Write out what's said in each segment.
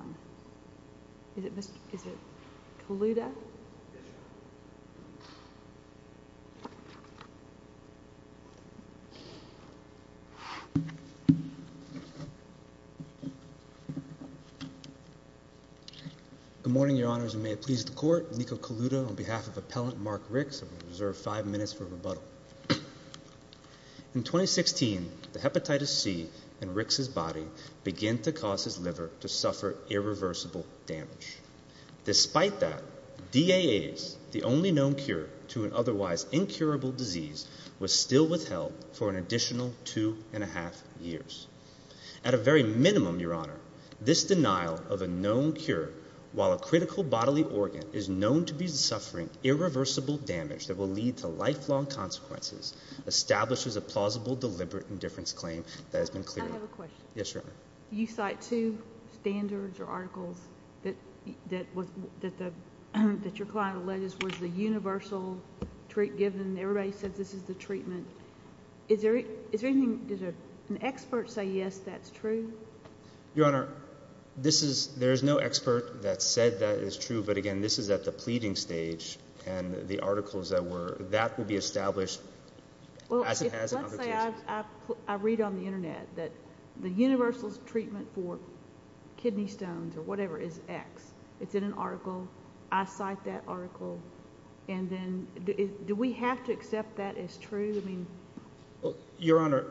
Good morning, Your Honors, and may it please the Court, Nico Coluto, on behalf of Appellant Mark Ricks, I reserve five minutes for rebuttal. In 2016, the hepatitis C in Ricks' body began to cause his liver to suffer irreversible damage. Despite that, DAAs, the only known cure to an otherwise incurable disease, was still withheld for an additional two and a half years. At a very minimum, Your Honor, this denial of a known cure while a critical bodily organ is known to be suffering irreversible damage that will lead to lifelong consequences establishes a plausible deliberate indifference claim that has been cleared. I have a question. Yes, Your Honor. You cite two standards or articles that your client alleges was the universal treat given. Everybody says this is the treatment. Is there anything – does an expert say, yes, that's true? Your Honor, this is – there is no expert that said that is true. But, again, this is at the pleading stage, and the articles that were – that will be established as it has in other cases. Well, let's say I read on the Internet that the universal treatment for kidney stones or whatever is X. It's in an article. I cite that article. And then do we have to accept that as true? Well, Your Honor,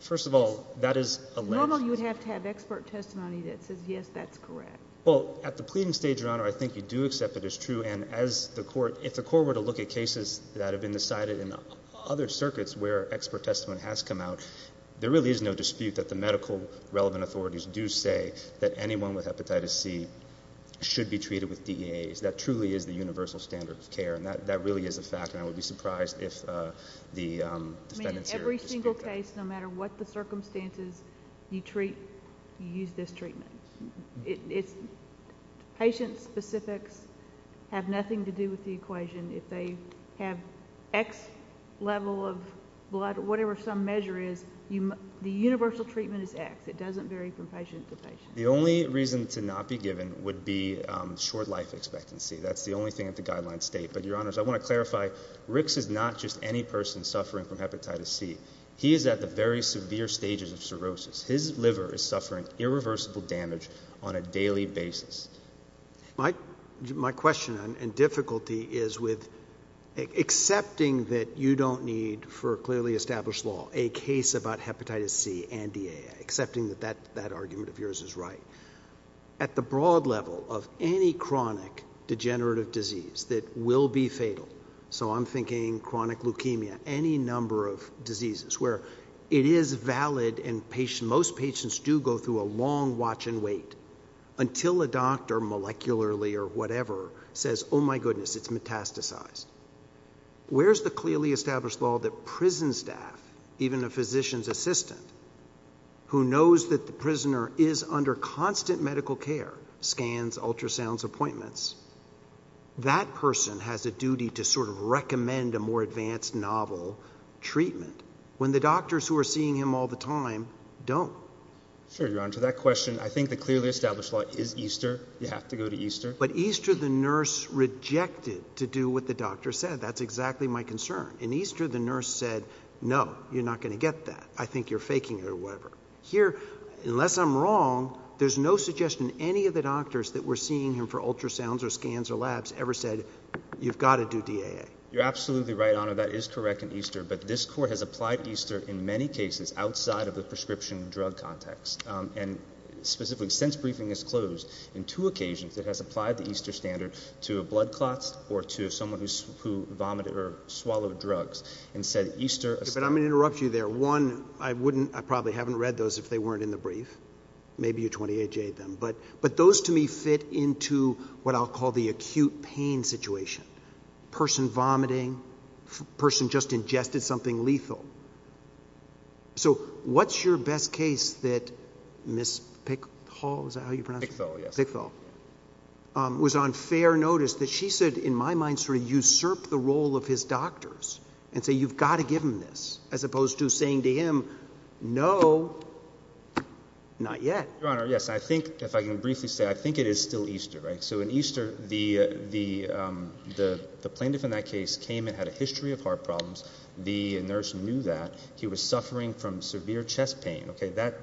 first of all, that is alleged. Normally, you would have to have expert testimony that says, yes, that's correct. Well, at the pleading stage, Your Honor, I think you do accept that it's true. And as the court – if the court were to look at cases that have been decided in other circuits where expert testimony has come out, there really is no dispute that the medical relevant authorities do say that anyone with hepatitis C should be treated with DEAs. That truly is the universal standard of care. And that really is a fact, and I would be surprised if the defendants here dispute that. In any case, no matter what the circumstances, you treat – you use this treatment. It's – patient specifics have nothing to do with the equation. If they have X level of blood or whatever some measure is, the universal treatment is X. It doesn't vary from patient to patient. The only reason to not be given would be short life expectancy. That's the only thing that the guidelines state. But, Your Honors, I want to clarify, Ricks is not just any person suffering from hepatitis C. He is at the very severe stages of cirrhosis. His liver is suffering irreversible damage on a daily basis. My question and difficulty is with accepting that you don't need for a clearly established law a case about hepatitis C and DEA, accepting that that argument of yours is right. At the broad level of any chronic degenerative disease that will be fatal – so I'm thinking chronic leukemia, any number of diseases where it is valid and most patients do go through a long watch and wait until a doctor molecularly or whatever says, oh, my goodness, it's metastasized. Where's the clearly established law that prison staff, even a physician's assistant, who knows that the prisoner is under constant medical care, scans, ultrasounds, appointments, that person has a duty to sort of recommend a more advanced novel treatment when the doctors who are seeing him all the time don't. Sure, Your Honor. To that question, I think the clearly established law is EASTER. You have to go to EASTER. But EASTER the nurse rejected to do what the doctor said. That's exactly my concern. In EASTER the nurse said, no, you're not going to get that. I think you're faking it or whatever. Here, unless I'm wrong, there's no suggestion any of the doctors that were seeing him for ultrasounds or scans or labs ever said, you've got to do DAA. You're absolutely right, Your Honor. That is correct in EASTER. But this court has applied EASTER in many cases outside of the prescription drug context. And specifically since briefing is closed, in two occasions it has applied the EASTER standard to blood clots or to someone who vomited or swallowed drugs and said EASTER – But I'm going to interrupt you there. One, I probably haven't read those if they weren't in the brief. Maybe you 28-J'd them. But those to me fit into what I'll call the acute pain situation. A person vomiting, a person just ingested something lethal. So what's your best case that Ms. Pickthall – is that how you pronounce it? Pickthall, yes. Pickthall was on fair notice that she said, in my mind, sort of usurp the role of his doctors and say, you've got to give him this, as opposed to saying to him, no, not yet. Your Honor, yes. I think, if I can briefly say, I think it is still EASTER. So in EASTER, the plaintiff in that case came and had a history of heart problems. The nurse knew that. He was suffering from severe chest pain.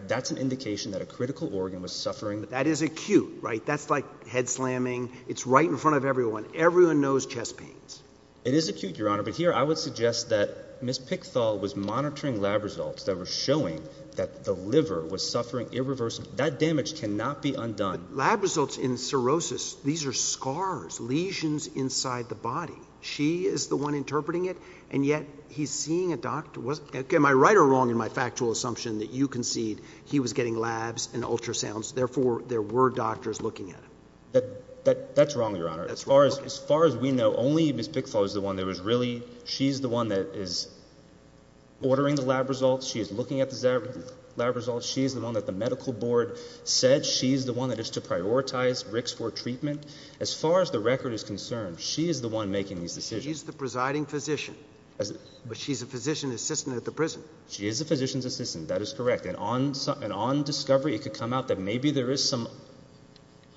That's an indication that a critical organ was suffering. That is acute, right? That's like head slamming. Everyone knows chest pains. It is acute, Your Honor. But here I would suggest that Ms. Pickthall was monitoring lab results that were showing that the liver was suffering irreversibly. That damage cannot be undone. Lab results in cirrhosis, these are scars, lesions inside the body. She is the one interpreting it, and yet he's seeing a doctor. Am I right or wrong in my factual assumption that you concede he was getting labs and ultrasounds, therefore there were doctors looking at him? That's wrong, Your Honor. As far as we know, only Ms. Pickthall is the one that was really— she's the one that is ordering the lab results. She is looking at the lab results. She is the one that the medical board said. She is the one that is to prioritize Ricks for treatment. As far as the record is concerned, she is the one making these decisions. She's the presiding physician, but she's a physician assistant at the prison. She is a physician's assistant. That is correct. And on discovery, it could come out that maybe there is some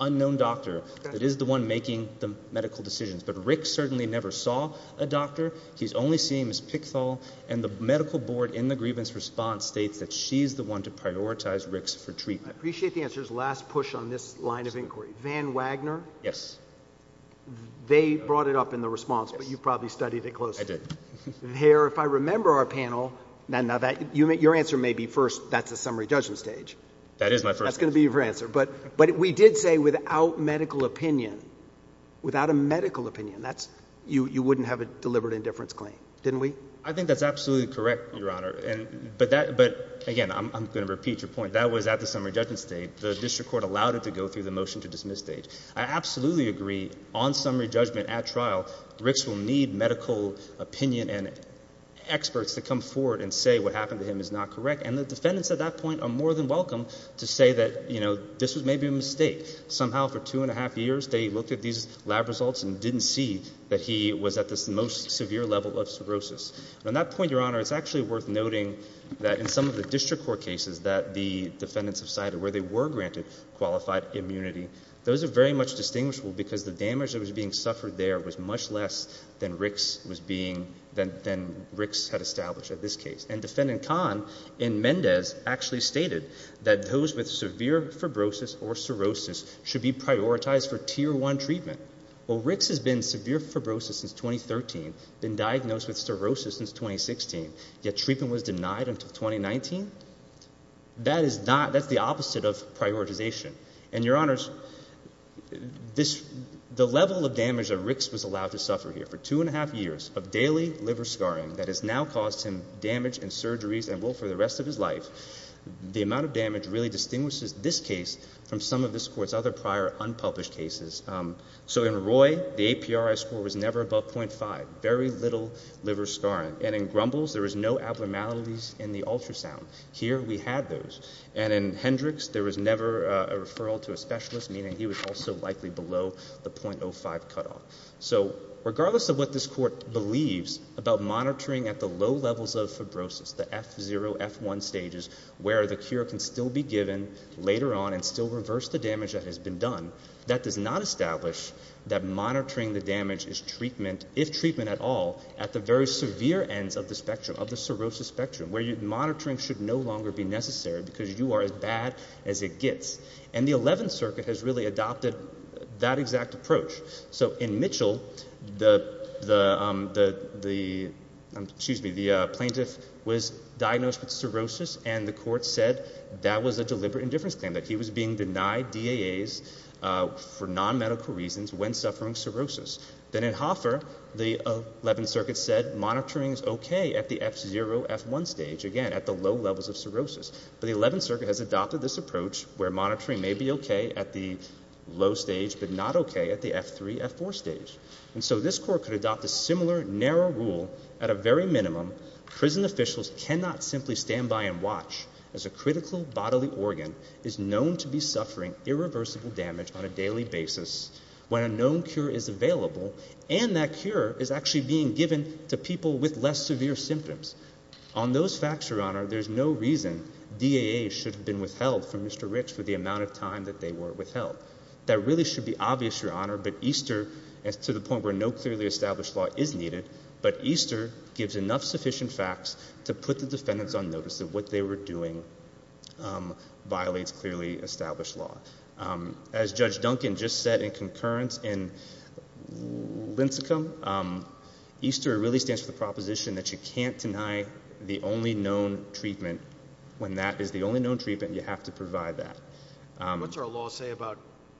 unknown doctor that is the one making the medical decisions, but Ricks certainly never saw a doctor. He's only seen Ms. Pickthall, and the medical board in the grievance response states that she's the one to prioritize Ricks for treatment. I appreciate the answer. Last push on this line of inquiry. Van Wagner? Yes. They brought it up in the response, but you probably studied it closely. I did. There, if I remember our panel— now, your answer may be first, that's the summary judgment stage. That is my first answer. That's going to be your answer. But we did say without medical opinion, without a medical opinion, you wouldn't have a deliberate indifference claim, didn't we? I think that's absolutely correct, Your Honor. But, again, I'm going to repeat your point. That was at the summary judgment stage. The district court allowed it to go through the motion to dismiss stage. I absolutely agree on summary judgment at trial, Ricks will need medical opinion and experts to come forward and say what happened to him is not correct. And the defendants at that point are more than welcome to say that this was maybe a mistake. Somehow for two and a half years they looked at these lab results and didn't see that he was at this most severe level of cirrhosis. And at that point, Your Honor, it's actually worth noting that in some of the district court cases that the defendants have cited where they were granted qualified immunity, those are very much distinguishable because the damage that was being suffered there was much less than Ricks had established at this case. And Defendant Kahn in Mendez actually stated that those with severe fibrosis or cirrhosis should be prioritized for Tier 1 treatment. Well, Ricks has been in severe fibrosis since 2013, been diagnosed with cirrhosis since 2016, yet treatment was denied until 2019? That is not, that's the opposite of prioritization. And, Your Honors, the level of damage that Ricks was allowed to suffer here for two and a half years of daily liver scarring that has now caused him damage and surgeries and will for the rest of his life, the amount of damage really distinguishes this case from some of this Court's other prior unpublished cases. So in Roy, the APRI score was never above .5, very little liver scarring. And in Grumbles, there was no abnormalities in the ultrasound. Here we had those. And in Hendricks, there was never a referral to a specialist, meaning he was also likely below the .05 cutoff. So regardless of what this Court believes about monitoring at the low levels of fibrosis, the F0, F1 stages, where the cure can still be given later on and still reverse the damage that has been done, that does not establish that monitoring the damage is treatment, if treatment at all, at the very severe ends of the spectrum, of the cirrhosis spectrum, where monitoring should no longer be necessary because you are as bad as it gets. And the Eleventh Circuit has really adopted that exact approach. So in Mitchell, the plaintiff was diagnosed with cirrhosis, and the Court said that was a deliberate indifference claim, that he was being denied DAAs for nonmedical reasons when suffering cirrhosis. Then in Hoffer, the Eleventh Circuit said monitoring is okay at the F0, F1 stage, again, at the low levels of cirrhosis. But the Eleventh Circuit has adopted this approach where monitoring may be okay at the low stage but not okay at the F3, F4 stage. And so this Court could adopt a similar narrow rule. At a very minimum, prison officials cannot simply stand by and watch as a critical bodily organ is known to be suffering irreversible damage on a daily basis when a known cure is available, and that cure is actually being given to people with less severe symptoms. On those facts, Your Honor, there's no reason DAAs should have been withheld from Mr. Rich for the amount of time that they were withheld. That really should be obvious, Your Honor, but Easter, to the point where no clearly established law is needed, but Easter gives enough sufficient facts to put the defendants on notice that what they were doing violates clearly established law. As Judge Duncan just said in concurrence in Lincecum, Easter really stands for the proposition that you can't deny the only known treatment when that is the only known treatment and you have to provide that. What's our law say about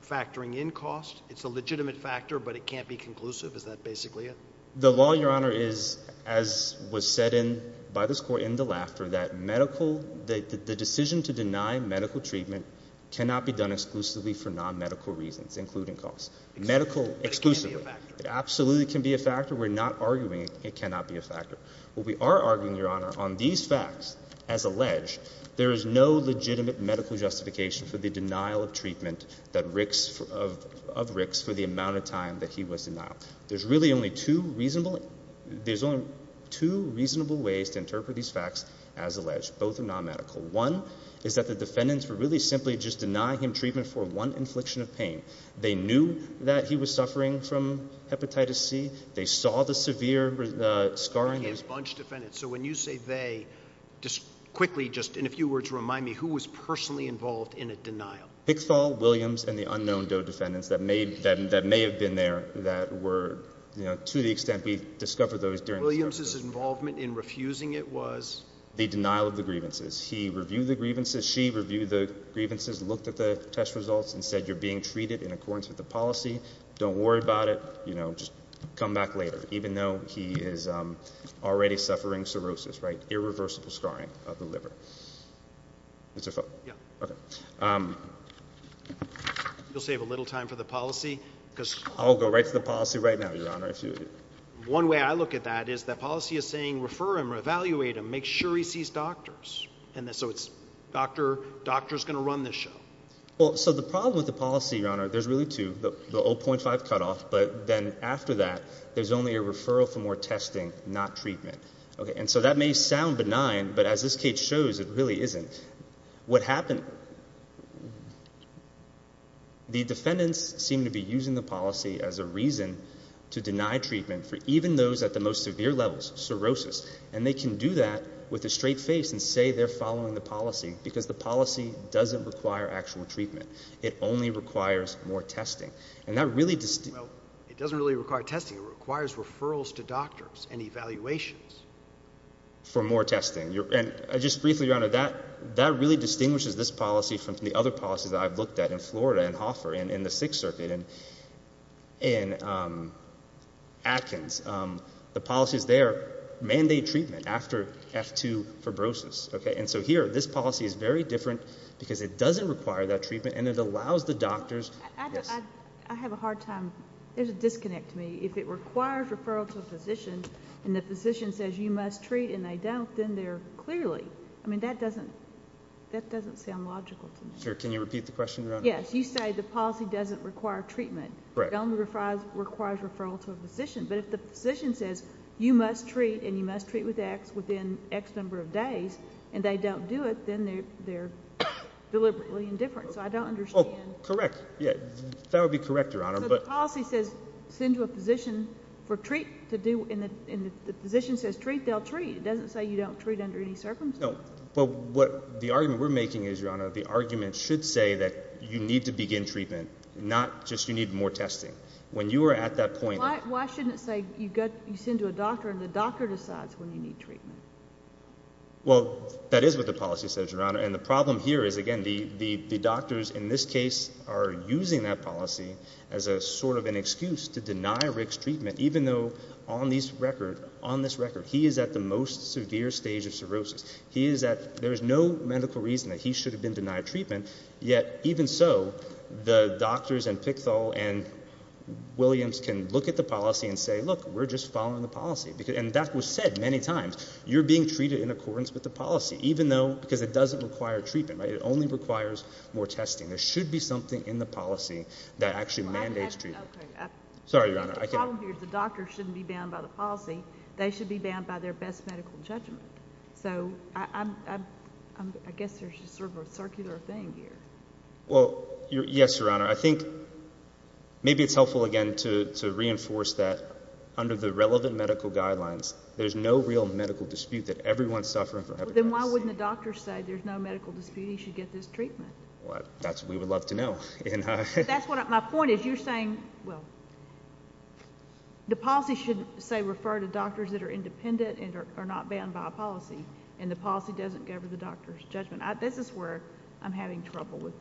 factoring in cost? It's a legitimate factor, but it can't be conclusive? Is that basically it? The law, Your Honor, is, as was said by this Court in the laughter, that the decision to deny medical treatment cannot be done exclusively for non-medical reasons, including cost. Medical exclusively. It can be a factor. It absolutely can be a factor. We're not arguing it cannot be a factor. What we are arguing, Your Honor, on these facts, as alleged, there is no legitimate medical justification for the denial of treatment of Rick's for the amount of time that he was denied. There's really only two reasonable ways to interpret these facts as alleged. Both are non-medical. One is that the defendants were really simply just denying him treatment for one infliction of pain. They knew that he was suffering from hepatitis C. They saw the severe scarring. He had a bunch of defendants. So when you say they, just quickly, just in a few words, remind me who was personally involved in a denial. Pickthall, Williams, and the unknown Doe defendants that may have been there that were, you know, to the extent we've discovered those during the discussion. Williams' involvement in refusing it was? The denial of the grievances. He reviewed the grievances. She reviewed the grievances, looked at the test results, and said you're being treated in accordance with the policy. Don't worry about it. You know, just come back later. Even though he is already suffering cirrhosis, right? Irreversible scarring of the liver. You'll save a little time for the policy. I'll go right to the policy right now, Your Honor. One way I look at that is the policy is saying refer him or evaluate him. Make sure he sees doctors. So it's doctors going to run this show. Well, so the problem with the policy, Your Honor, there's really two. The 0.5 cutoff, but then after that, there's only a referral for more testing, not treatment. And so that may sound benign, but as this case shows, it really isn't. What happened, the defendants seem to be using the policy as a reason to deny treatment for even those at the most severe levels, cirrhosis, and they can do that with a straight face and say they're following the policy because the policy doesn't require actual treatment. It only requires more testing. Well, it doesn't really require testing. It requires referrals to doctors and evaluations. For more testing. And just briefly, Your Honor, that really distinguishes this policy from the other policies I've looked at in Florida and Hoffer and in the Sixth Circuit and in Atkins. The policies there mandate treatment after F2 fibrosis. And so here, this policy is very different because it doesn't require that treatment and it allows the doctors. I have a hard time. There's a disconnect to me. If it requires referral to a physician and the physician says you must treat and they don't, then they're clearly. I mean, that doesn't sound logical to me. Sure. Can you repeat the question, Your Honor? Yes. You say the policy doesn't require treatment. It only requires referral to a physician. But if the physician says you must treat and you must treat with X within X number of days and they don't do it, then they're deliberately indifferent. So I don't understand. Oh, correct. That would be correct, Your Honor. So the policy says send to a physician for treat to do. And if the physician says treat, they'll treat. It doesn't say you don't treat under any circumstances. No. But what the argument we're making is, Your Honor, the argument should say that you need to begin treatment, not just you need more testing. When you are at that point. Why shouldn't it say you send to a doctor and the doctor decides when you need treatment? Well, that is what the policy says, Your Honor. And the problem here is, again, the doctors in this case are using that policy as a sort of an excuse to deny Rick's treatment, even though on this record he is at the most severe stage of cirrhosis. There is no medical reason that he should have been denied treatment, yet even so, the doctors and Pickthall and Williams can look at the policy and say, look, we're just following the policy. And that was said many times. You're being treated in accordance with the policy, even though, because it doesn't require treatment. It only requires more testing. There should be something in the policy that actually mandates treatment. Sorry, Your Honor. The problem here is the doctors shouldn't be bound by the policy. They should be bound by their best medical judgment. So I guess there's just sort of a circular thing here. Well, yes, Your Honor. I think maybe it's helpful, again, to reinforce that under the relevant medical guidelines, there's no real medical dispute that everyone's suffering from hepatitis C. Then why wouldn't the doctors say there's no medical dispute he should get this treatment? That's what we would love to know. My point is you're saying, well, the policy should, say, refer to doctors that are independent and are not bound by a policy, and the policy doesn't govern the doctor's judgment. This is where I'm having trouble with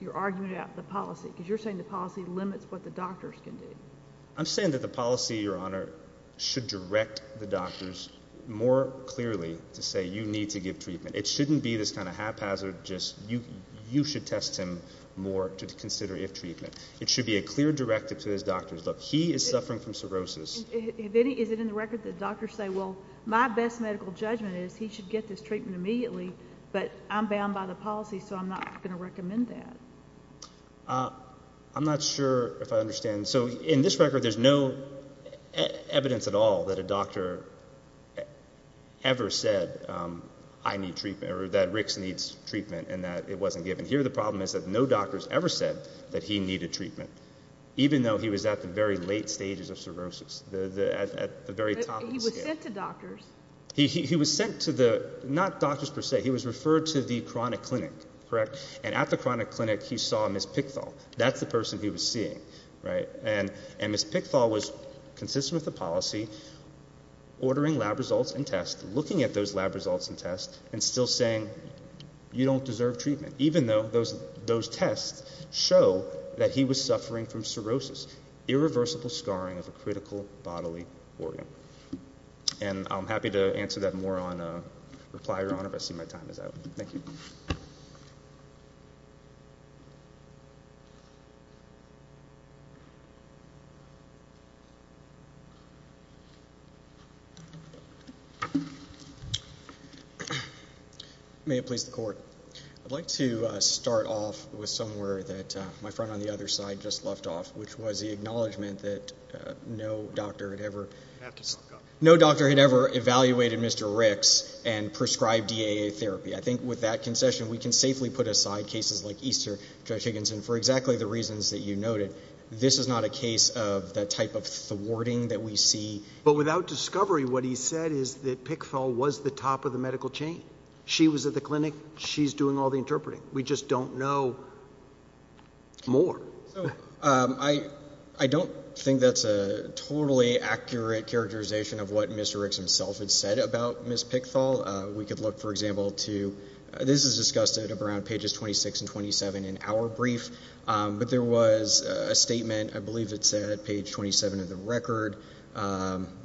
your argument about the policy, because you're saying the policy limits what the doctors can do. I'm saying that the policy, Your Honor, should direct the doctors more clearly to say you need to give treatment. It shouldn't be this kind of haphazard just you should test him more to consider if treatment. It should be a clear directive to his doctors, look, he is suffering from cirrhosis. Is it in the record that doctors say, well, my best medical judgment is he should get this treatment immediately, but I'm bound by the policy, so I'm not going to recommend that? I'm not sure if I understand. So in this record there's no evidence at all that a doctor ever said I need treatment or that Ricks needs treatment and that it wasn't given. Here the problem is that no doctor has ever said that he needed treatment, even though he was at the very late stages of cirrhosis, at the very top of the scale. He was sent to doctors. He was sent to the ñ not doctors per se. He was referred to the chronic clinic, correct? And at the chronic clinic he saw Ms. Pickthall. That's the person he was seeing, right? And Ms. Pickthall was consistent with the policy, ordering lab results and tests, looking at those lab results and tests and still saying you don't deserve treatment, even though those tests show that he was suffering from cirrhosis, irreversible scarring of a critical bodily organ. And I'm happy to answer that more in reply, Your Honor, if I see my time is out. Thank you. May it please the Court. I'd like to start off with somewhere that my friend on the other side just left off, which was the acknowledgment that no doctor had ever ñ no doctor had ever evaluated Mr. Ricks and prescribed DAA therapy. I think with that concession we can safely put aside cases like Easter, Judge Higginson, for exactly the reasons that you noted. This is not a case of the type of thwarting that we see. But without discovery what he said is that Pickthall was the top of the medical chain. She was at the clinic. She's doing all the interpreting. We just don't know more. I don't think that's a totally accurate characterization of what Mr. Ricks himself had said about Ms. Pickthall. We could look, for example, to ñ this is discussed at around pages 26 and 27 in our brief. But there was a statement, I believe it said at page 27 of the record,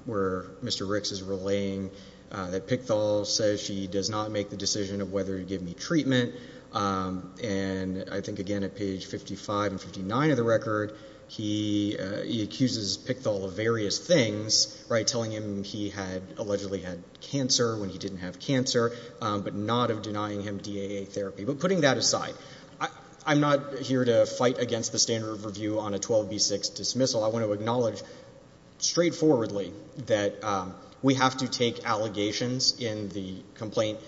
where Mr. Ricks is relaying that Pickthall says she does not make the decision of whether to give me treatment. And I think, again, at page 55 and 59 of the record, he accuses Pickthall of various things, telling him he had allegedly had cancer when he didn't have cancer, but not of denying him DAA therapy. But putting that aside, I'm not here to fight against the standard of review on a 12B6 dismissal. I want to acknowledge straightforwardly that we have to take allegations in the complaint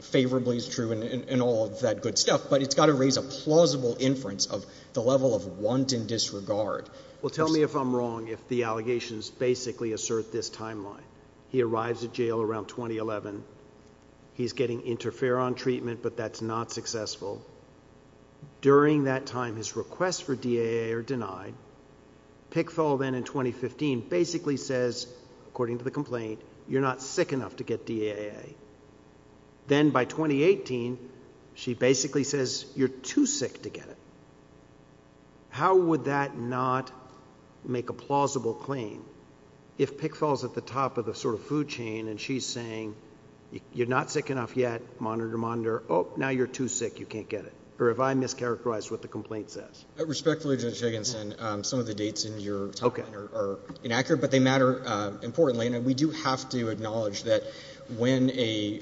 favorably as true and all of that good stuff, but it's got to raise a plausible inference of the level of wanton disregard. Well, tell me if I'm wrong if the allegations basically assert this timeline. He arrives at jail around 2011. He's getting interferon treatment, but that's not successful. During that time, his requests for DAA are denied. Pickthall then in 2015 basically says, according to the complaint, you're not sick enough to get DAA. Then by 2018, she basically says you're too sick to get it. How would that not make a plausible claim if Pickthall's at the top of the sort of food chain and she's saying you're not sick enough yet, monitor, monitor. Oh, now you're too sick. You can't get it. Or if I mischaracterized what the complaint says. Respectfully, Judge Higginson, some of the dates in your timeline are inaccurate, but they matter importantly, and we do have to acknowledge that when a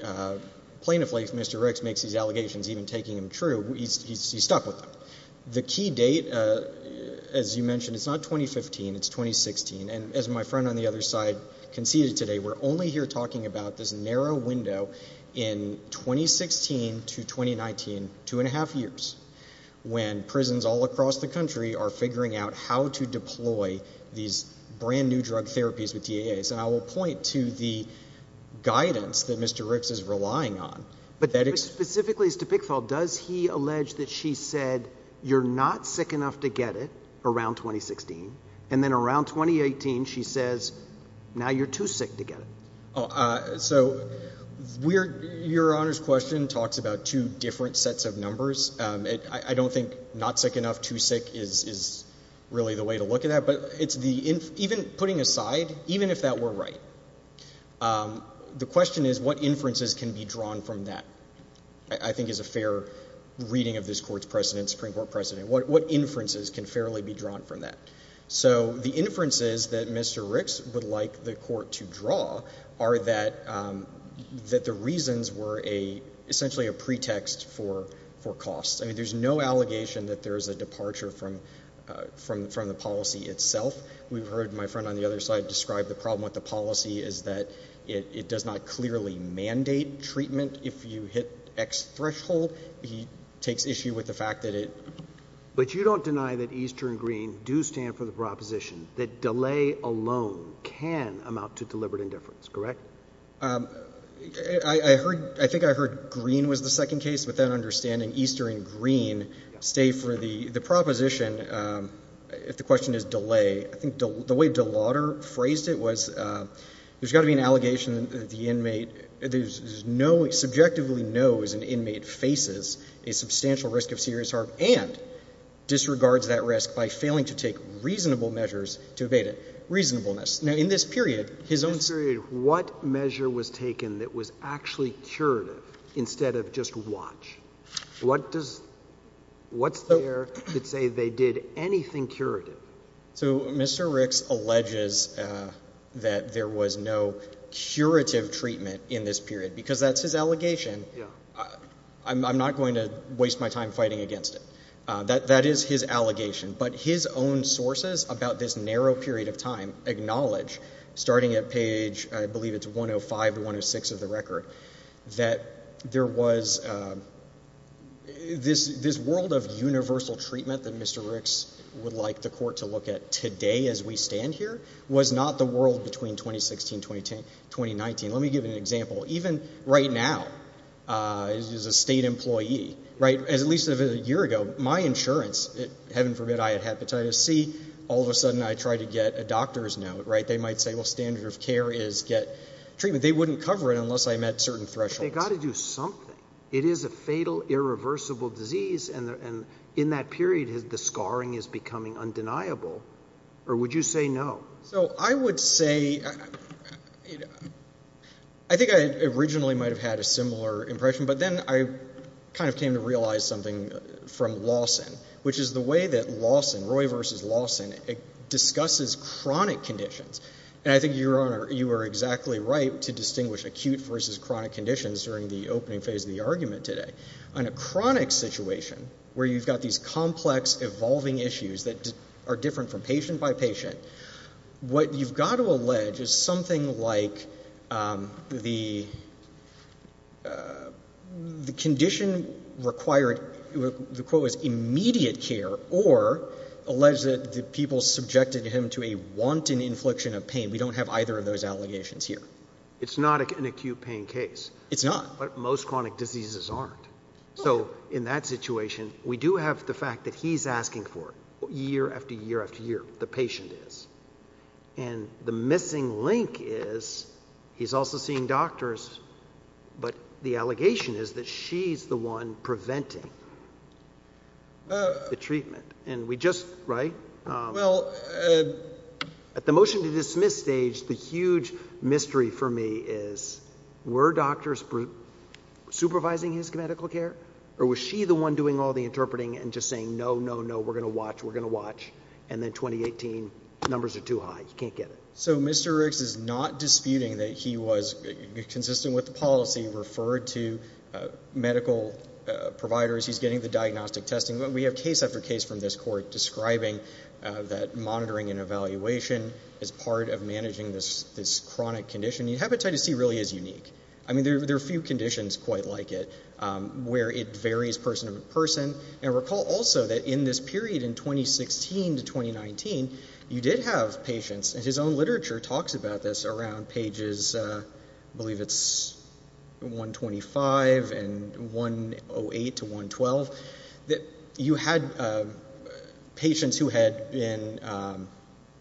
plaintiff like Mr. Ricks makes these allegations, even taking them true, he's stuck with them. The key date, as you mentioned, it's not 2015. It's 2016. As my friend on the other side conceded today, we're only here talking about this narrow window in 2016 to 2019, two and a half years, when prisons all across the country are figuring out how to deploy these brand-new drug therapies with DAAs. I will point to the guidance that Mr. Ricks is relying on. Specifically to Pickthall, does he allege that she said you're not sick enough to get it around 2016, and then around 2018 she says now you're too sick to get it? So your Honor's question talks about two different sets of numbers. I don't think not sick enough, too sick is really the way to look at that. But even putting aside, even if that were right, the question is what inferences can be drawn from that, I think is a fair reading of this Court's precedent, Supreme Court precedent. What inferences can fairly be drawn from that? So the inferences that Mr. Ricks would like the Court to draw are that the reasons were essentially a pretext for costs. I mean, there's no allegation that there's a departure from the policy itself. We've heard my friend on the other side describe the problem with the policy is that it does not clearly mandate treatment. If you hit X threshold, he takes issue with the fact that it. But you don't deny that Easter and Green do stand for the proposition that delay alone can amount to deliberate indifference, correct? I heard, I think I heard Green was the second case, but then understanding Easter and Green stay for the proposition, if the question is delay, I think the way De Lauder phrased it was there's got to be an allegation that the inmate, there's no subjectively knows an inmate faces a substantial risk of serious harm and disregards that risk by failing to take reasonable measures to evade it. Reasonableness. Now, in this period, his own. In this period, what measure was taken that was actually curative instead of just watch? What does, what's there that say they did anything curative? So Mr. Ricks alleges that there was no curative treatment in this period because that's his allegation. I'm not going to waste my time fighting against it. That is his allegation. But his own sources about this narrow period of time acknowledge, starting at page, I believe it's 105 to 106 of the record, that there was this world of universal treatment that Mr. Ricks would like the court to look at today as we stand here was not the world between 2016, 2019. Let me give you an example. Even right now, as a state employee, right, at least a year ago, my insurance, heaven forbid I had hepatitis C, all of a sudden I tried to get a doctor's note, right? They might say, well, standard of care is get treatment. They wouldn't cover it unless I met certain thresholds. But they've got to do something. It is a fatal, irreversible disease, and in that period the scarring is becoming undeniable. Or would you say no? So I would say, I think I originally might have had a similar impression, but then I kind of came to realize something from Lawson, which is the way that Lawson, Roy v. Lawson, discusses chronic conditions. And I think, Your Honor, you are exactly right to distinguish acute versus chronic conditions during the opening phase of the argument today. On a chronic situation where you've got these complex, evolving issues that are different from patient by patient, what you've got to allege is something like the condition required, the quote was, we don't have either of those allegations here. It's not an acute pain case. It's not. But most chronic diseases aren't. So in that situation, we do have the fact that he's asking for it year after year after year, the patient is. And the missing link is he's also seeing doctors, but the allegation is that she's the one preventing the treatment. And we just, right, at the motion to dismiss stage, the huge mystery for me is, were doctors supervising his medical care? Or was she the one doing all the interpreting and just saying, no, no, no, we're going to watch, we're going to watch. And then 2018, numbers are too high. You can't get it. So Mr. Riggs is not disputing that he was consistent with the policy referred to medical providers. He's getting the diagnostic testing. We have case after case from this court describing that monitoring and evaluation is part of managing this chronic condition. Hepatitis C really is unique. I mean, there are a few conditions quite like it where it varies person to person. And recall also that in this period in 2016 to 2019, you did have patients, and his own literature talks about this around pages, I believe it's 125 and 108 to 112, that you had patients who had been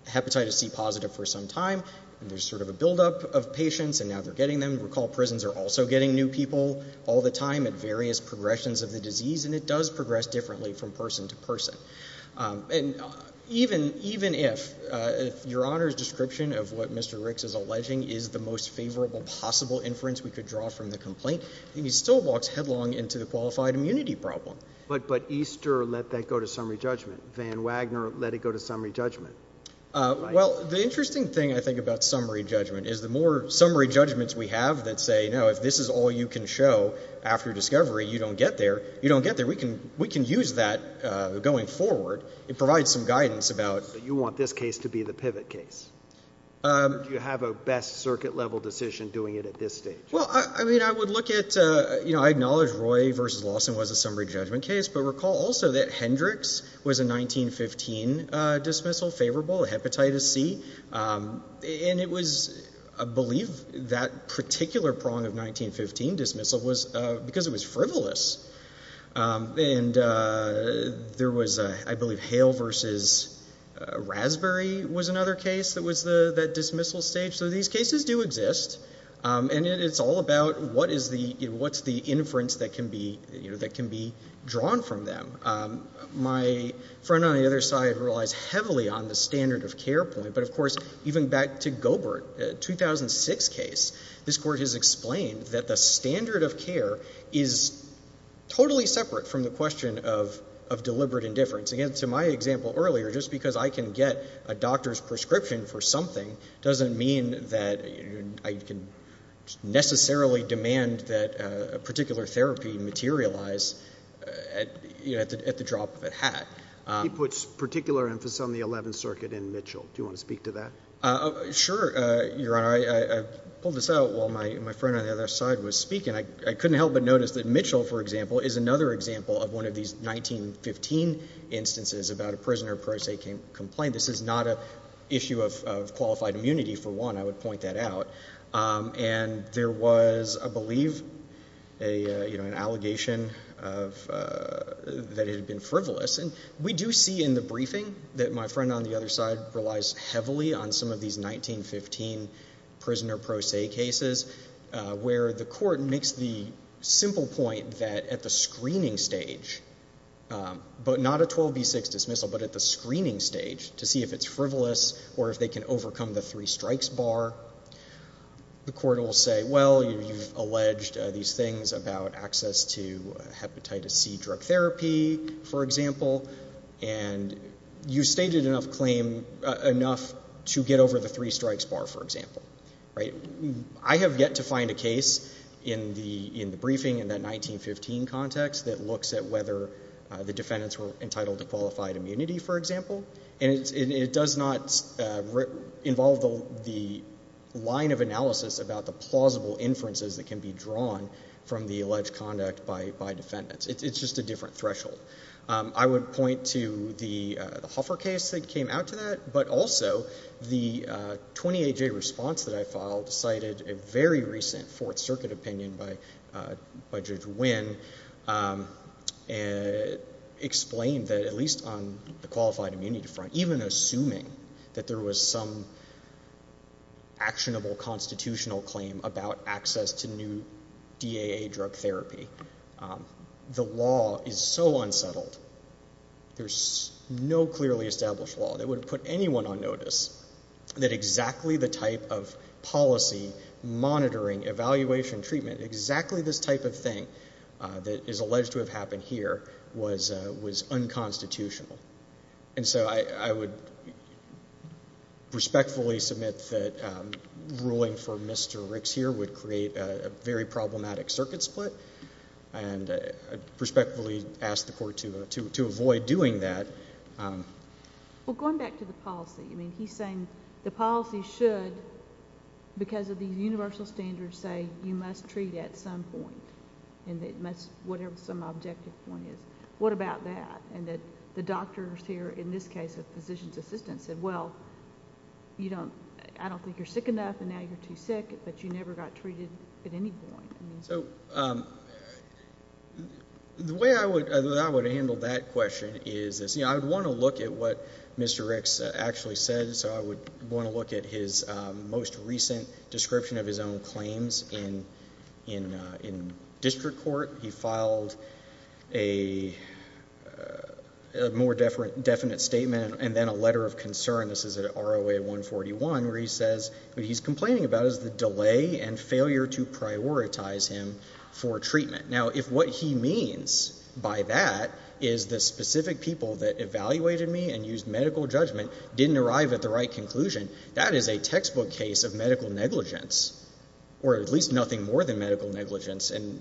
hepatitis C positive for some time. And there's sort of a buildup of patients. And now they're getting them. And it does progress differently from person to person. And even if your Honor's description of what Mr. Riggs is alleging is the most favorable possible inference we could draw from the complaint, he still walks headlong into the qualified immunity problem. But Easter let that go to summary judgment. Van Wagner let it go to summary judgment. Well, the interesting thing, I think, about summary judgment is the more summary judgments we have that say, no, if this is all you can show after discovery, you don't get there. You don't get there. We can use that going forward. It provides some guidance about. But you want this case to be the pivot case. Do you have a best circuit level decision doing it at this stage? Well, I mean, I would look at, you know, I acknowledge Roy v. Lawson was a summary judgment case. But recall also that Hendricks was a 1915 dismissal favorable, hepatitis C. And it was, I believe, that particular prong of 1915 dismissal was because it was frivolous. And there was, I believe, Hale v. Raspberry was another case that was that dismissal stage. So these cases do exist. And it's all about what is the, you know, what's the inference that can be, you know, that can be drawn from them. My friend on the other side relies heavily on the standard of care point. But, of course, even back to Gobert, 2006 case, this court has explained that the standard of care is totally separate from the question of deliberate indifference. Again, to my example earlier, just because I can get a doctor's prescription for something doesn't mean that I can necessarily demand that a particular therapy materialize at the drop of a hat. He puts particular emphasis on the Eleventh Circuit in Mitchell. Do you want to speak to that? Sure, Your Honor. I pulled this out while my friend on the other side was speaking. I couldn't help but notice that Mitchell, for example, is another example of one of these 1915 instances about a prisoner pro se complaint. This is not an issue of qualified immunity, for one. I would point that out. And there was, I believe, you know, an allegation that it had been frivolous. And we do see in the briefing that my friend on the other side relies heavily on some of these 1915 prisoner pro se cases where the court makes the simple point that at the screening stage, but not a 12B6 dismissal, but at the screening stage, to see if it's frivolous or if they can overcome the three strikes bar, the court will say, well, you've alleged these things about access to hepatitis C drug therapy, for example, and you've stated enough to get over the three strikes bar, for example. I have yet to find a case in the briefing in that 1915 context that looks at whether the defendants were entitled to qualified immunity, for example. And it does not involve the line of analysis about the plausible inferences that can be drawn from the alleged conduct by defendants. It's just a different threshold. I would point to the Hoffer case that came out to that, but also the 20AJ response that I filed cited a very recent Fourth Circuit opinion by Judge Wynn and explained that at least on the qualified immunity front, even assuming that there was some actionable constitutional claim about access to new DAA drug therapy, the law is so unsettled, there's no clearly established law that would put anyone on notice that exactly the type of policy, monitoring, evaluation, treatment, exactly this type of thing that is alleged to have happened here was unconstitutional. And so I would respectfully submit that ruling for Mr. Ricks here would create a very problematic circuit split, and I'd respectfully ask the court to avoid doing that. Well, going back to the policy, he's saying the policy should, because of these universal standards, say you must treat at some point, whatever some objective point is. What about that? And that the doctors here, in this case a physician's assistant, said, well, I don't think you're sick enough and now you're too sick, but you never got treated at any point. So the way I would handle that question is I would want to look at what Mr. Ricks actually said, so I would want to look at his most recent description of his own claims in district court. He filed a more definite statement and then a letter of concern. This is at ROA 141 where he says what he's complaining about is the delay and failure to prioritize him for treatment. Now, if what he means by that is the specific people that evaluated me and used medical judgment didn't arrive at the right conclusion, that is a textbook case of medical negligence, or at least nothing more than medical negligence. And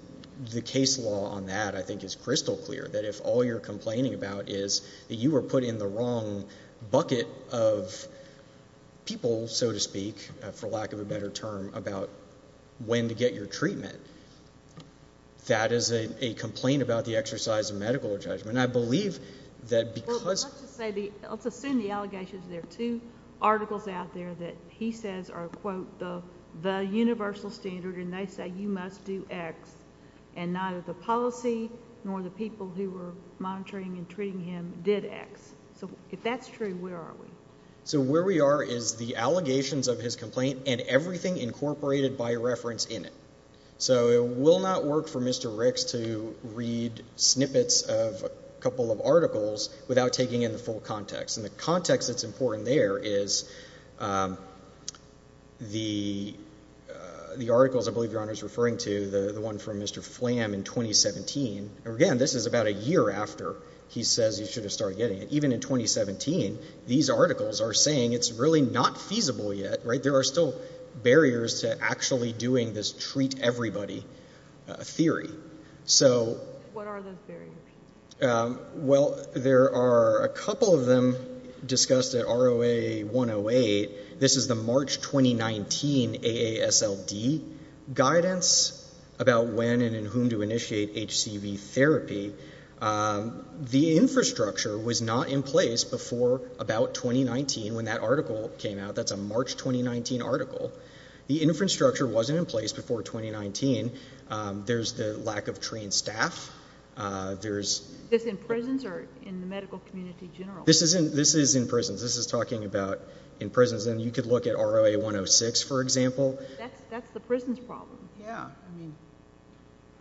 the case law on that I think is crystal clear, that if all you're complaining about is that you were put in the wrong bucket of people, so to speak, for lack of a better term, about when to get your treatment, that is a complaint about the exercise of medical judgment. I believe that because of the ‑‑ Well, let's assume the allegations. There are two articles out there that he says are, quote, the universal standard, and they say you must do X. And neither the policy nor the people who were monitoring and treating him did X. So if that's true, where are we? So where we are is the allegations of his complaint and everything incorporated by reference in it. So it will not work for Mr. Ricks to read snippets of a couple of articles without taking in the full context. And the context that's important there is the articles I believe Your Honor is referring to, the one from Mr. Flam in 2017. Again, this is about a year after he says you should have started getting it. Even in 2017, these articles are saying it's really not feasible yet, right? There are still barriers to actually doing this treat everybody theory. So ‑‑ What are those barriers? Well, there are a couple of them discussed at ROA 108. This is the March 2019 AASLD guidance about when and in whom to initiate HCV therapy. The infrastructure was not in place before about 2019 when that article came out. That's a March 2019 article. The infrastructure wasn't in place before 2019. There's the lack of trained staff. Is this in prisons or in the medical community in general? This is in prisons. This is talking about in prisons. And you could look at ROA 106, for example. That's the prison's problem. Yeah. I mean,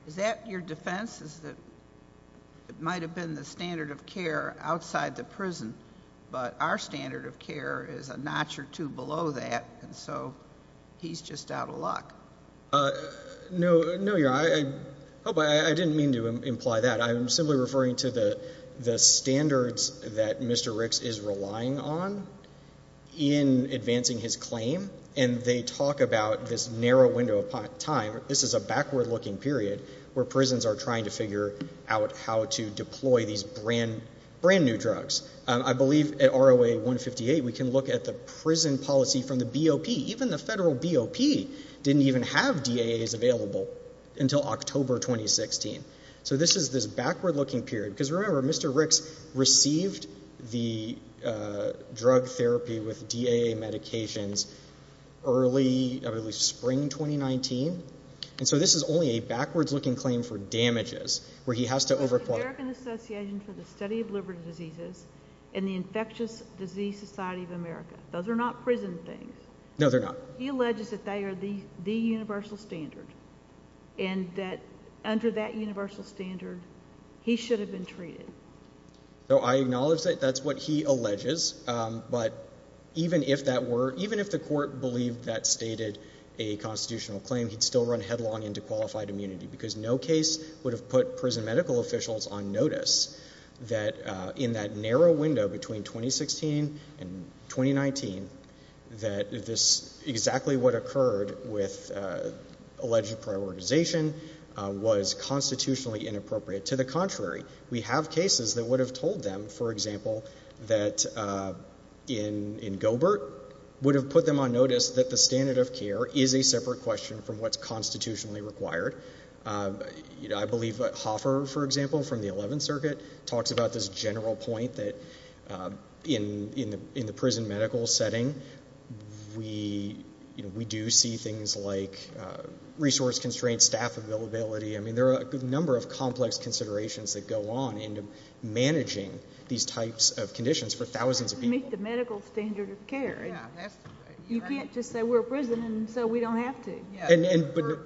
is that your defense is that it might have been the standard of care outside the prison, but our standard of care is a notch or two below that, and so he's just out of luck? No, Your Honor. I didn't mean to imply that. I'm simply referring to the standards that Mr. Ricks is relying on in advancing his claim, and they talk about this narrow window of time. This is a backward-looking period where prisons are trying to figure out how to deploy these brand new drugs. I believe at ROA 158 we can look at the prison policy from the BOP. Even the federal BOP didn't even have DAAs available until October 2016. So this is this backward-looking period. Because, remember, Mr. Ricks received the drug therapy with DAA medications early, at least spring 2019, and so this is only a backwards-looking claim for damages where he has to over- The American Association for the Study of Liberty Diseases and the Infectious Disease Society of America. Those are not prison things. No, they're not. He alleges that they are the universal standard and that under that universal standard he should have been treated. So I acknowledge that that's what he alleges, but even if the court believed that stated a constitutional claim, he'd still run headlong into qualified immunity because no case would have put prison medical officials on notice that in that narrow window between 2016 and 2019 that exactly what occurred with alleged prioritization was constitutionally inappropriate. To the contrary, we have cases that would have told them, for example, that in Gobert would have put them on notice that the standard of care is a separate question from what's constitutionally required. I believe Hoffer, for example, from the 11th Circuit, talks about this general point that in the prison medical setting, we do see things like resource constraints, staff availability. I mean there are a number of complex considerations that go on into managing these types of conditions for thousands of people. It doesn't meet the medical standard of care. You can't just say we're a prison and say we don't have to.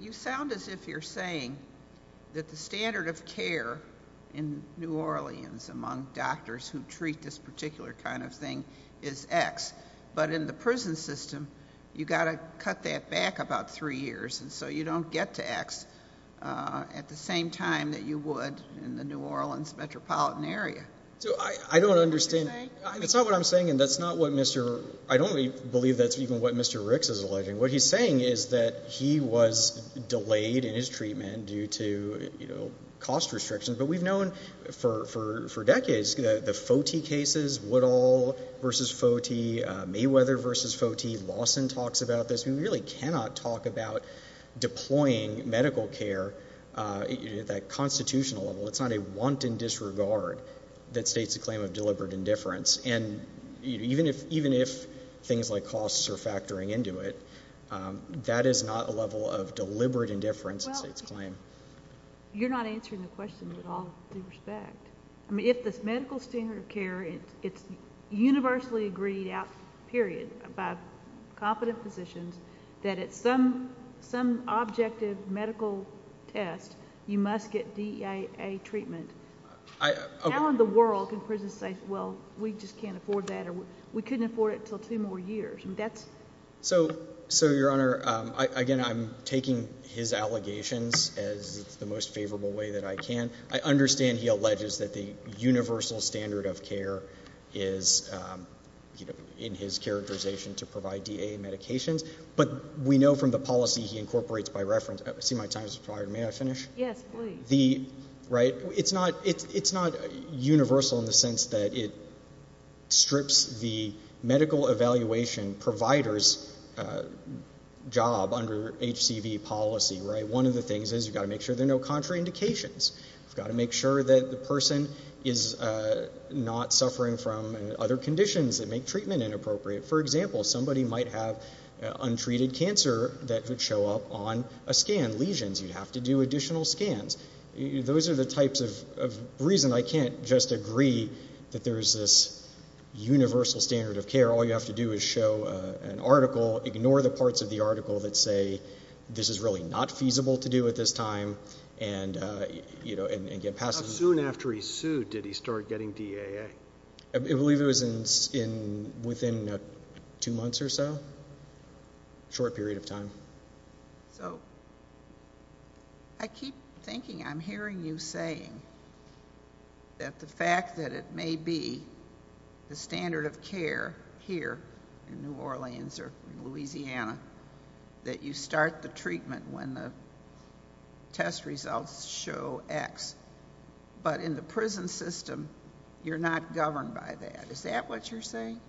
You sound as if you're saying that the standard of care in New Orleans among doctors who treat this particular kind of thing is X. But in the prison system, you've got to cut that back about three years, and so you don't get to X at the same time that you would in the New Orleans metropolitan area. I don't understand. That's not what you're saying? That's not what I'm saying, and that's not what Mr. I don't believe that's even what Mr. Ricks is alleging. What he's saying is that he was delayed in his treatment due to cost restrictions, but we've known for decades the Foti cases, Woodall v. Foti, Mayweather v. Foti, Lawson talks about this. We really cannot talk about deploying medical care at that constitutional level. It's not a wanton disregard that states a claim of deliberate indifference, and even if things like costs are factoring into it, that is not a level of deliberate indifference that states claim. You're not answering the question with all due respect. If this medical standard of care is universally agreed out, period, by competent physicians, that at some objective medical test you must get DEAA treatment, how in the world can prisons say, well, we just can't afford that or we couldn't afford it until two more years? So, Your Honor, again, I'm taking his allegations as the most favorable way that I can. I understand he alleges that the universal standard of care is in his characterization to provide DEAA medications, but we know from the policy he incorporates by reference. I see my time has expired. May I finish? Yes, please. It's not universal in the sense that it strips the medical evaluation provider's job under HCV policy. One of the things is you've got to make sure there are no contraindications. You've got to make sure that the person is not suffering from other conditions that make treatment inappropriate. For example, somebody might have untreated cancer that would show up on a scan, lesions. You'd have to do additional scans. Those are the types of reasons I can't just agree that there is this universal standard of care. All you have to do is show an article, ignore the parts of the article that say, this is really not feasible to do at this time, and get past it. How soon after he sued did he start getting DEAA? I believe it was within two months or so, a short period of time. I keep thinking I'm hearing you saying that the fact that it may be the standard of care here in New Orleans or Louisiana that you start the treatment when the test results show X, but in the prison system you're not governed by that. Is that what you're saying?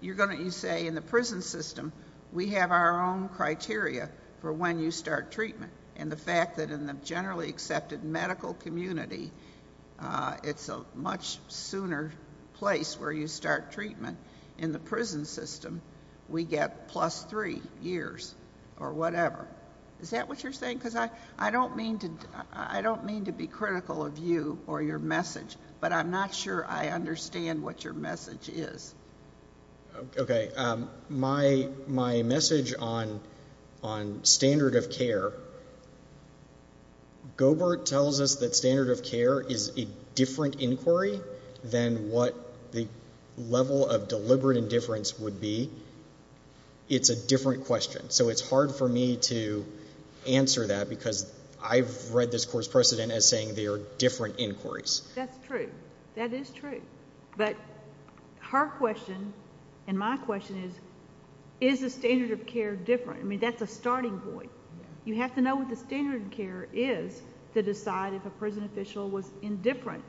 You say in the prison system we have our own criteria for when you start treatment, and the fact that in the generally accepted medical community it's a much sooner place where you start treatment. In the prison system we get plus three years or whatever. Is that what you're saying? I don't mean to be critical of you or your message, but I'm not sure I understand what your message is. My message on standard of care, Gobert tells us that standard of care is a different inquiry than what the level of deliberate indifference would be. It's a different question. So it's hard for me to answer that because I've read this court's precedent as saying they are different inquiries. That's true. That is true. But her question and my question is, is the standard of care different? I mean, that's a starting point. You have to know what the standard of care is to decide if a prison official was indifferent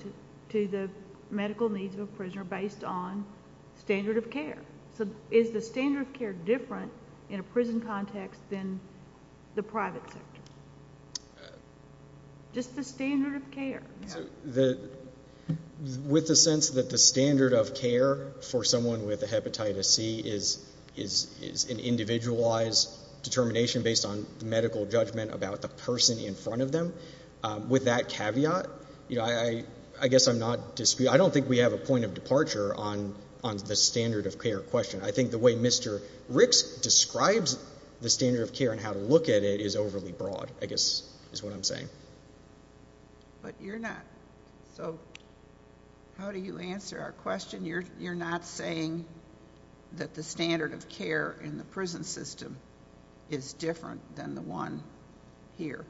to the medical needs of a prisoner based on standard of care. So is the standard of care different in a prison context than the private sector? Just the standard of care. With the sense that the standard of care for someone with a hepatitis C is an individualized determination based on medical judgment about the person in front of them, with that caveat, I guess I'm not disputing. I don't think we have a point of departure on the standard of care question. I think the way Mr. Ricks describes the standard of care and how to look at it is overly broad, I guess is what I'm saying. But you're not. So how do you answer our question? You're not saying that the standard of care in the prison system is different than the one here.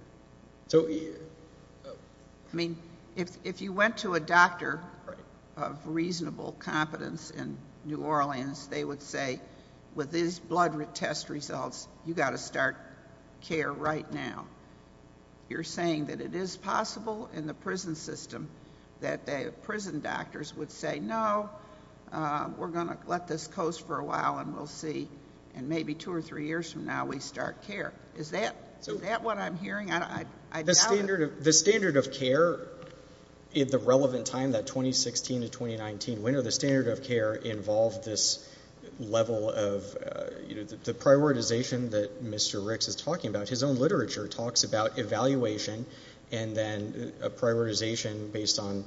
I mean, if you went to a doctor of reasonable competence in New Orleans, they would say with these blood test results, you've got to start care right now. You're saying that it is possible in the prison system that the prison doctors would say, no, we're going to let this coast for a while and we'll see, and maybe two or three years from now we start care. Is that what I'm hearing? I doubt it. The standard of care at the relevant time, that 2016 to 2019 winter, the standard of care involved this level of the prioritization that Mr. Ricks is talking about. His own literature talks about evaluation and then a prioritization based on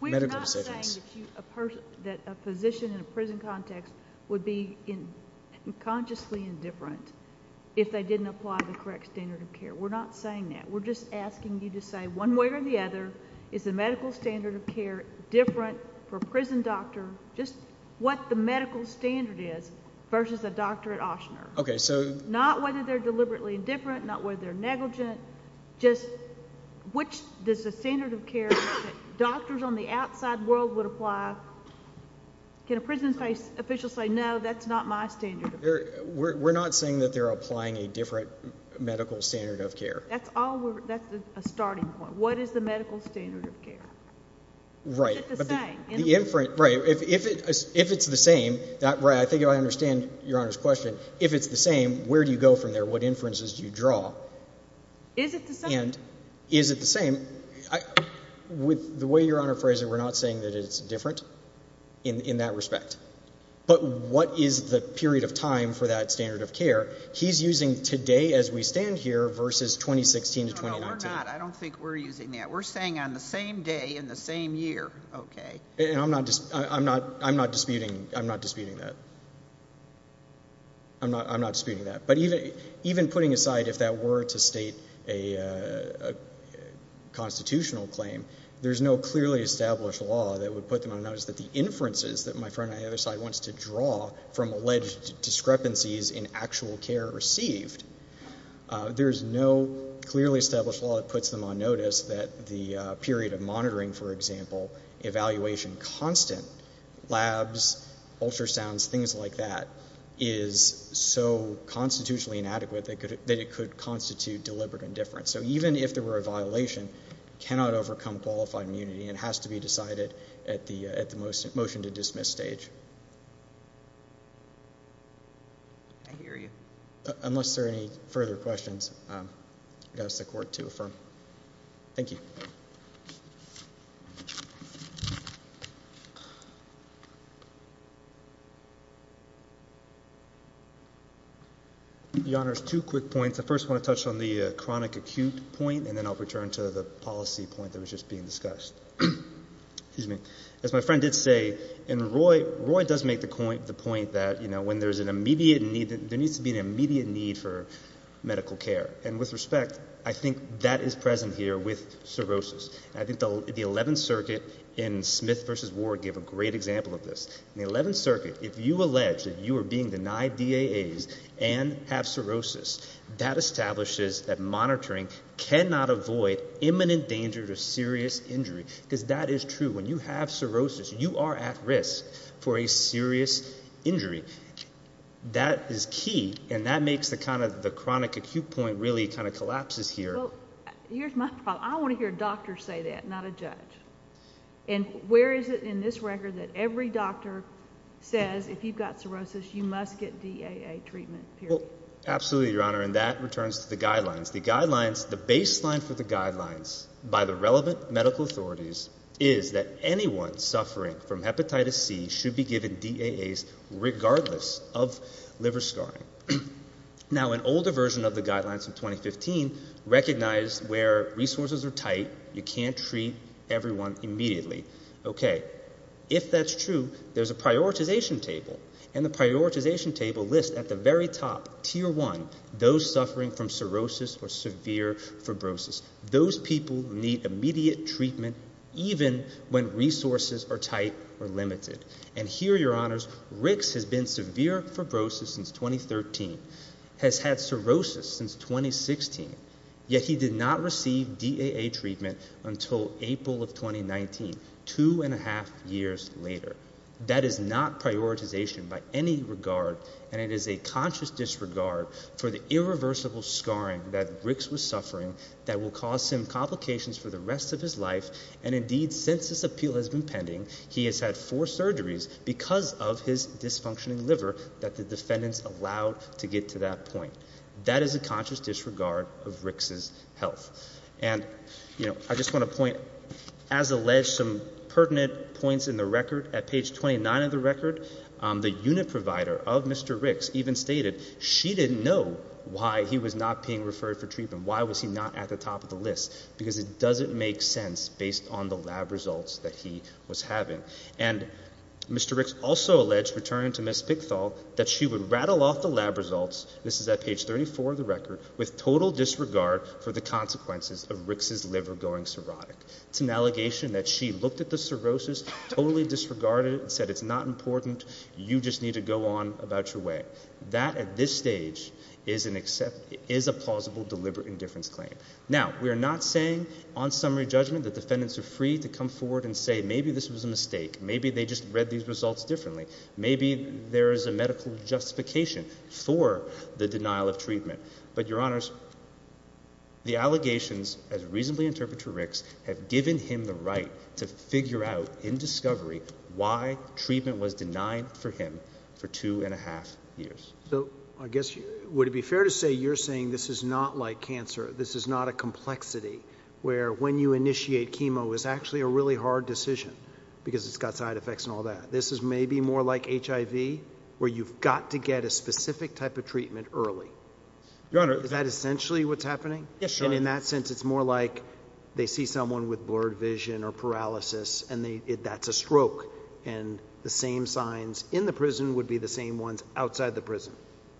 medical decisions. You're saying that a physician in a prison context would be consciously indifferent if they didn't apply the correct standard of care. We're not saying that. We're just asking you to say one way or the other, is the medical standard of care different for a prison doctor, just what the medical standard is versus a doctor at Ochsner. Not whether they're deliberately indifferent, not whether they're negligent, just which is the standard of care that doctors on the outside world would apply. Can a prison official say, no, that's not my standard of care? We're not saying that they're applying a different medical standard of care. That's a starting point. What is the medical standard of care? Right. Is it the same? Right. If it's the same, I think I understand Your Honor's question, if it's the same, where do you go from there? What inferences do you draw? Is it the same? Is it the same? With the way Your Honor phrased it, we're not saying that it's different in that respect. But what is the period of time for that standard of care? He's using today as we stand here versus 2016 to 2019. No, we're not. I don't think we're using that. We're saying on the same day in the same year. Okay. I'm not disputing that. I'm not disputing that. But even putting aside if that were to state a constitutional claim, there's no clearly established law that would put them on notice that the inferences that my friend on the other side wants to draw from alleged discrepancies in actual care received, there's no clearly established law that puts them on notice that the period of monitoring, for example, evaluation constant, labs, ultrasounds, things like that, is so constitutionally inadequate that it could constitute deliberate indifference. So even if there were a violation, it cannot overcome qualified immunity. It has to be decided at the motion to dismiss stage. I hear you. Unless there are any further questions, I'll ask the Court to affirm. Thank you. Your Honor, two quick points. I first want to touch on the chronic acute point, and then I'll return to the policy point that was just being discussed. As my friend did say, and Roy does make the point that when there's an immediate need, there needs to be an immediate need for medical care. And with respect, I think that is present here with cirrhosis. I think the Eleventh Circuit in Smith v. Ward gave a great example of this. In the Eleventh Circuit, if you allege that you are being denied DAAs and have cirrhosis, that establishes that monitoring cannot avoid imminent danger to serious injury, because that is true. When you have cirrhosis, you are at risk for a serious injury. That is key, and that makes the chronic acute point really kind of collapses here. Here's my problem. I want to hear doctors say that, not a judge. And where is it in this record that every doctor says if you've got cirrhosis, you must get DAA treatment? Absolutely, Your Honor, and that returns to the guidelines. The baseline for the guidelines by the relevant medical authorities is that anyone suffering from hepatitis C should be given DAAs regardless of liver scarring. Now, an older version of the guidelines from 2015 recognized where resources are tight, you can't treat everyone immediately. Okay, if that's true, there's a prioritization table, and the prioritization table lists at the very top, Tier 1, those suffering from cirrhosis or severe fibrosis. Those people need immediate treatment even when resources are tight or limited. And here, Your Honors, Ricks has been severe fibrosis since 2013, has had cirrhosis since 2016, yet he did not receive DAA treatment until April of 2019, two and a half years later. That is not prioritization by any regard, and it is a conscious disregard for the irreversible scarring that Ricks was suffering that will cause him complications for the rest of his life. And indeed, since this appeal has been pending, he has had four surgeries because of his dysfunctioning liver that the defendants allowed to get to that point. That is a conscious disregard of Ricks' health. And, you know, I just want to point, as alleged, some pertinent points in the record. At page 29 of the record, the unit provider of Mr. Ricks even stated she didn't know why he was not being referred for treatment. Why was he not at the top of the list? Because it doesn't make sense based on the lab results that he was having. And Mr. Ricks also alleged, returning to Ms. Pickthall, that she would rattle off the lab results, this is at page 34 of the record, with total disregard for the consequences of Ricks' liver going cirrhotic. It's an allegation that she looked at the cirrhosis, totally disregarded it, and said it's not important, you just need to go on about your way. That, at this stage, is a plausible deliberate indifference claim. Now, we are not saying, on summary judgment, that defendants are free to come forward and say, maybe this was a mistake, maybe they just read these results differently, but, Your Honors, the allegations, as reasonably interpreted to Ricks, have given him the right to figure out, in discovery, why treatment was denied for him for two and a half years. So, I guess, would it be fair to say you're saying this is not like cancer, this is not a complexity, where when you initiate chemo, it's actually a really hard decision, because it's got side effects and all that. This is maybe more like HIV, where you've got to get a specific type of treatment early. Your Honor, Is that essentially what's happening? Yes, Your Honor. And in that sense, it's more like they see someone with blurred vision or paralysis, and that's a stroke. And the same signs in the prison would be the same ones outside the prison.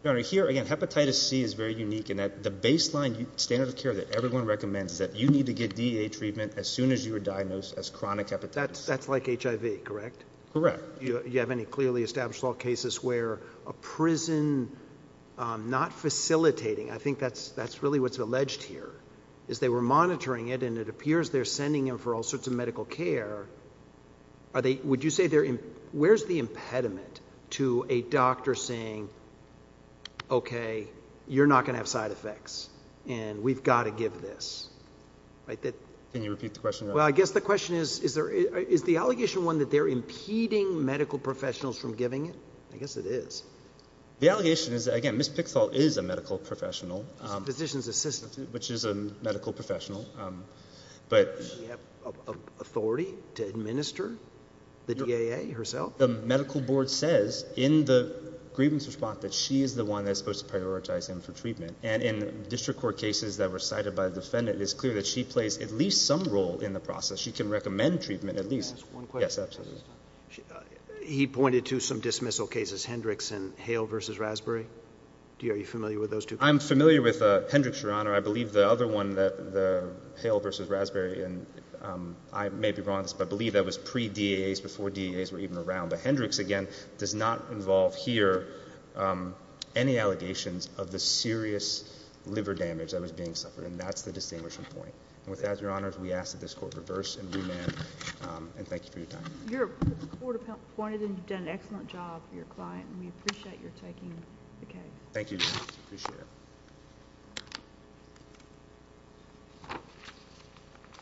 Your Honor, here, again, hepatitis C is very unique in that the baseline standard of care that everyone recommends is that you need to get DEA treatment as soon as you are diagnosed as chronic hepatitis. That's like HIV, correct? Correct. You have any clearly established law cases where a prison not facilitating, I think that's really what's alleged here, is they were monitoring it, and it appears they're sending him for all sorts of medical care. Would you say where's the impediment to a doctor saying, okay, you're not going to have side effects, and we've got to give this? Can you repeat the question, Your Honor? Well, I guess the question is, is the allegation one that they're impeding medical professionals from giving it? I guess it is. The allegation is, again, Ms. Pickthall is a medical professional. She's a physician's assistant. Which is a medical professional. Does she have authority to administer the DAA herself? The medical board says in the grievance response that she is the one that's supposed to prioritize him for treatment. And in district court cases that were cited by the defendant, it is clear that she plays at least some role in the process. She can recommend treatment at least. Can I ask one question? Yes, absolutely. He pointed to some dismissal cases, Hendricks and Hale v. Raspberry. Are you familiar with those two cases? I'm familiar with Hendricks, Your Honor. I believe the other one, the Hale v. Raspberry, and I may be wrong on this, but I believe that was pre-DAAs, before DAAs were even around. But Hendricks, again, does not involve here any allegations of the serious liver damage that was being suffered. And that's the distinguishing point. And with that, Your Honor, we ask that this court reverse and remand. And thank you for your time. The court appointed you. You've done an excellent job for your client. And we appreciate your taking the case. Thank you, Your Honor. I appreciate it.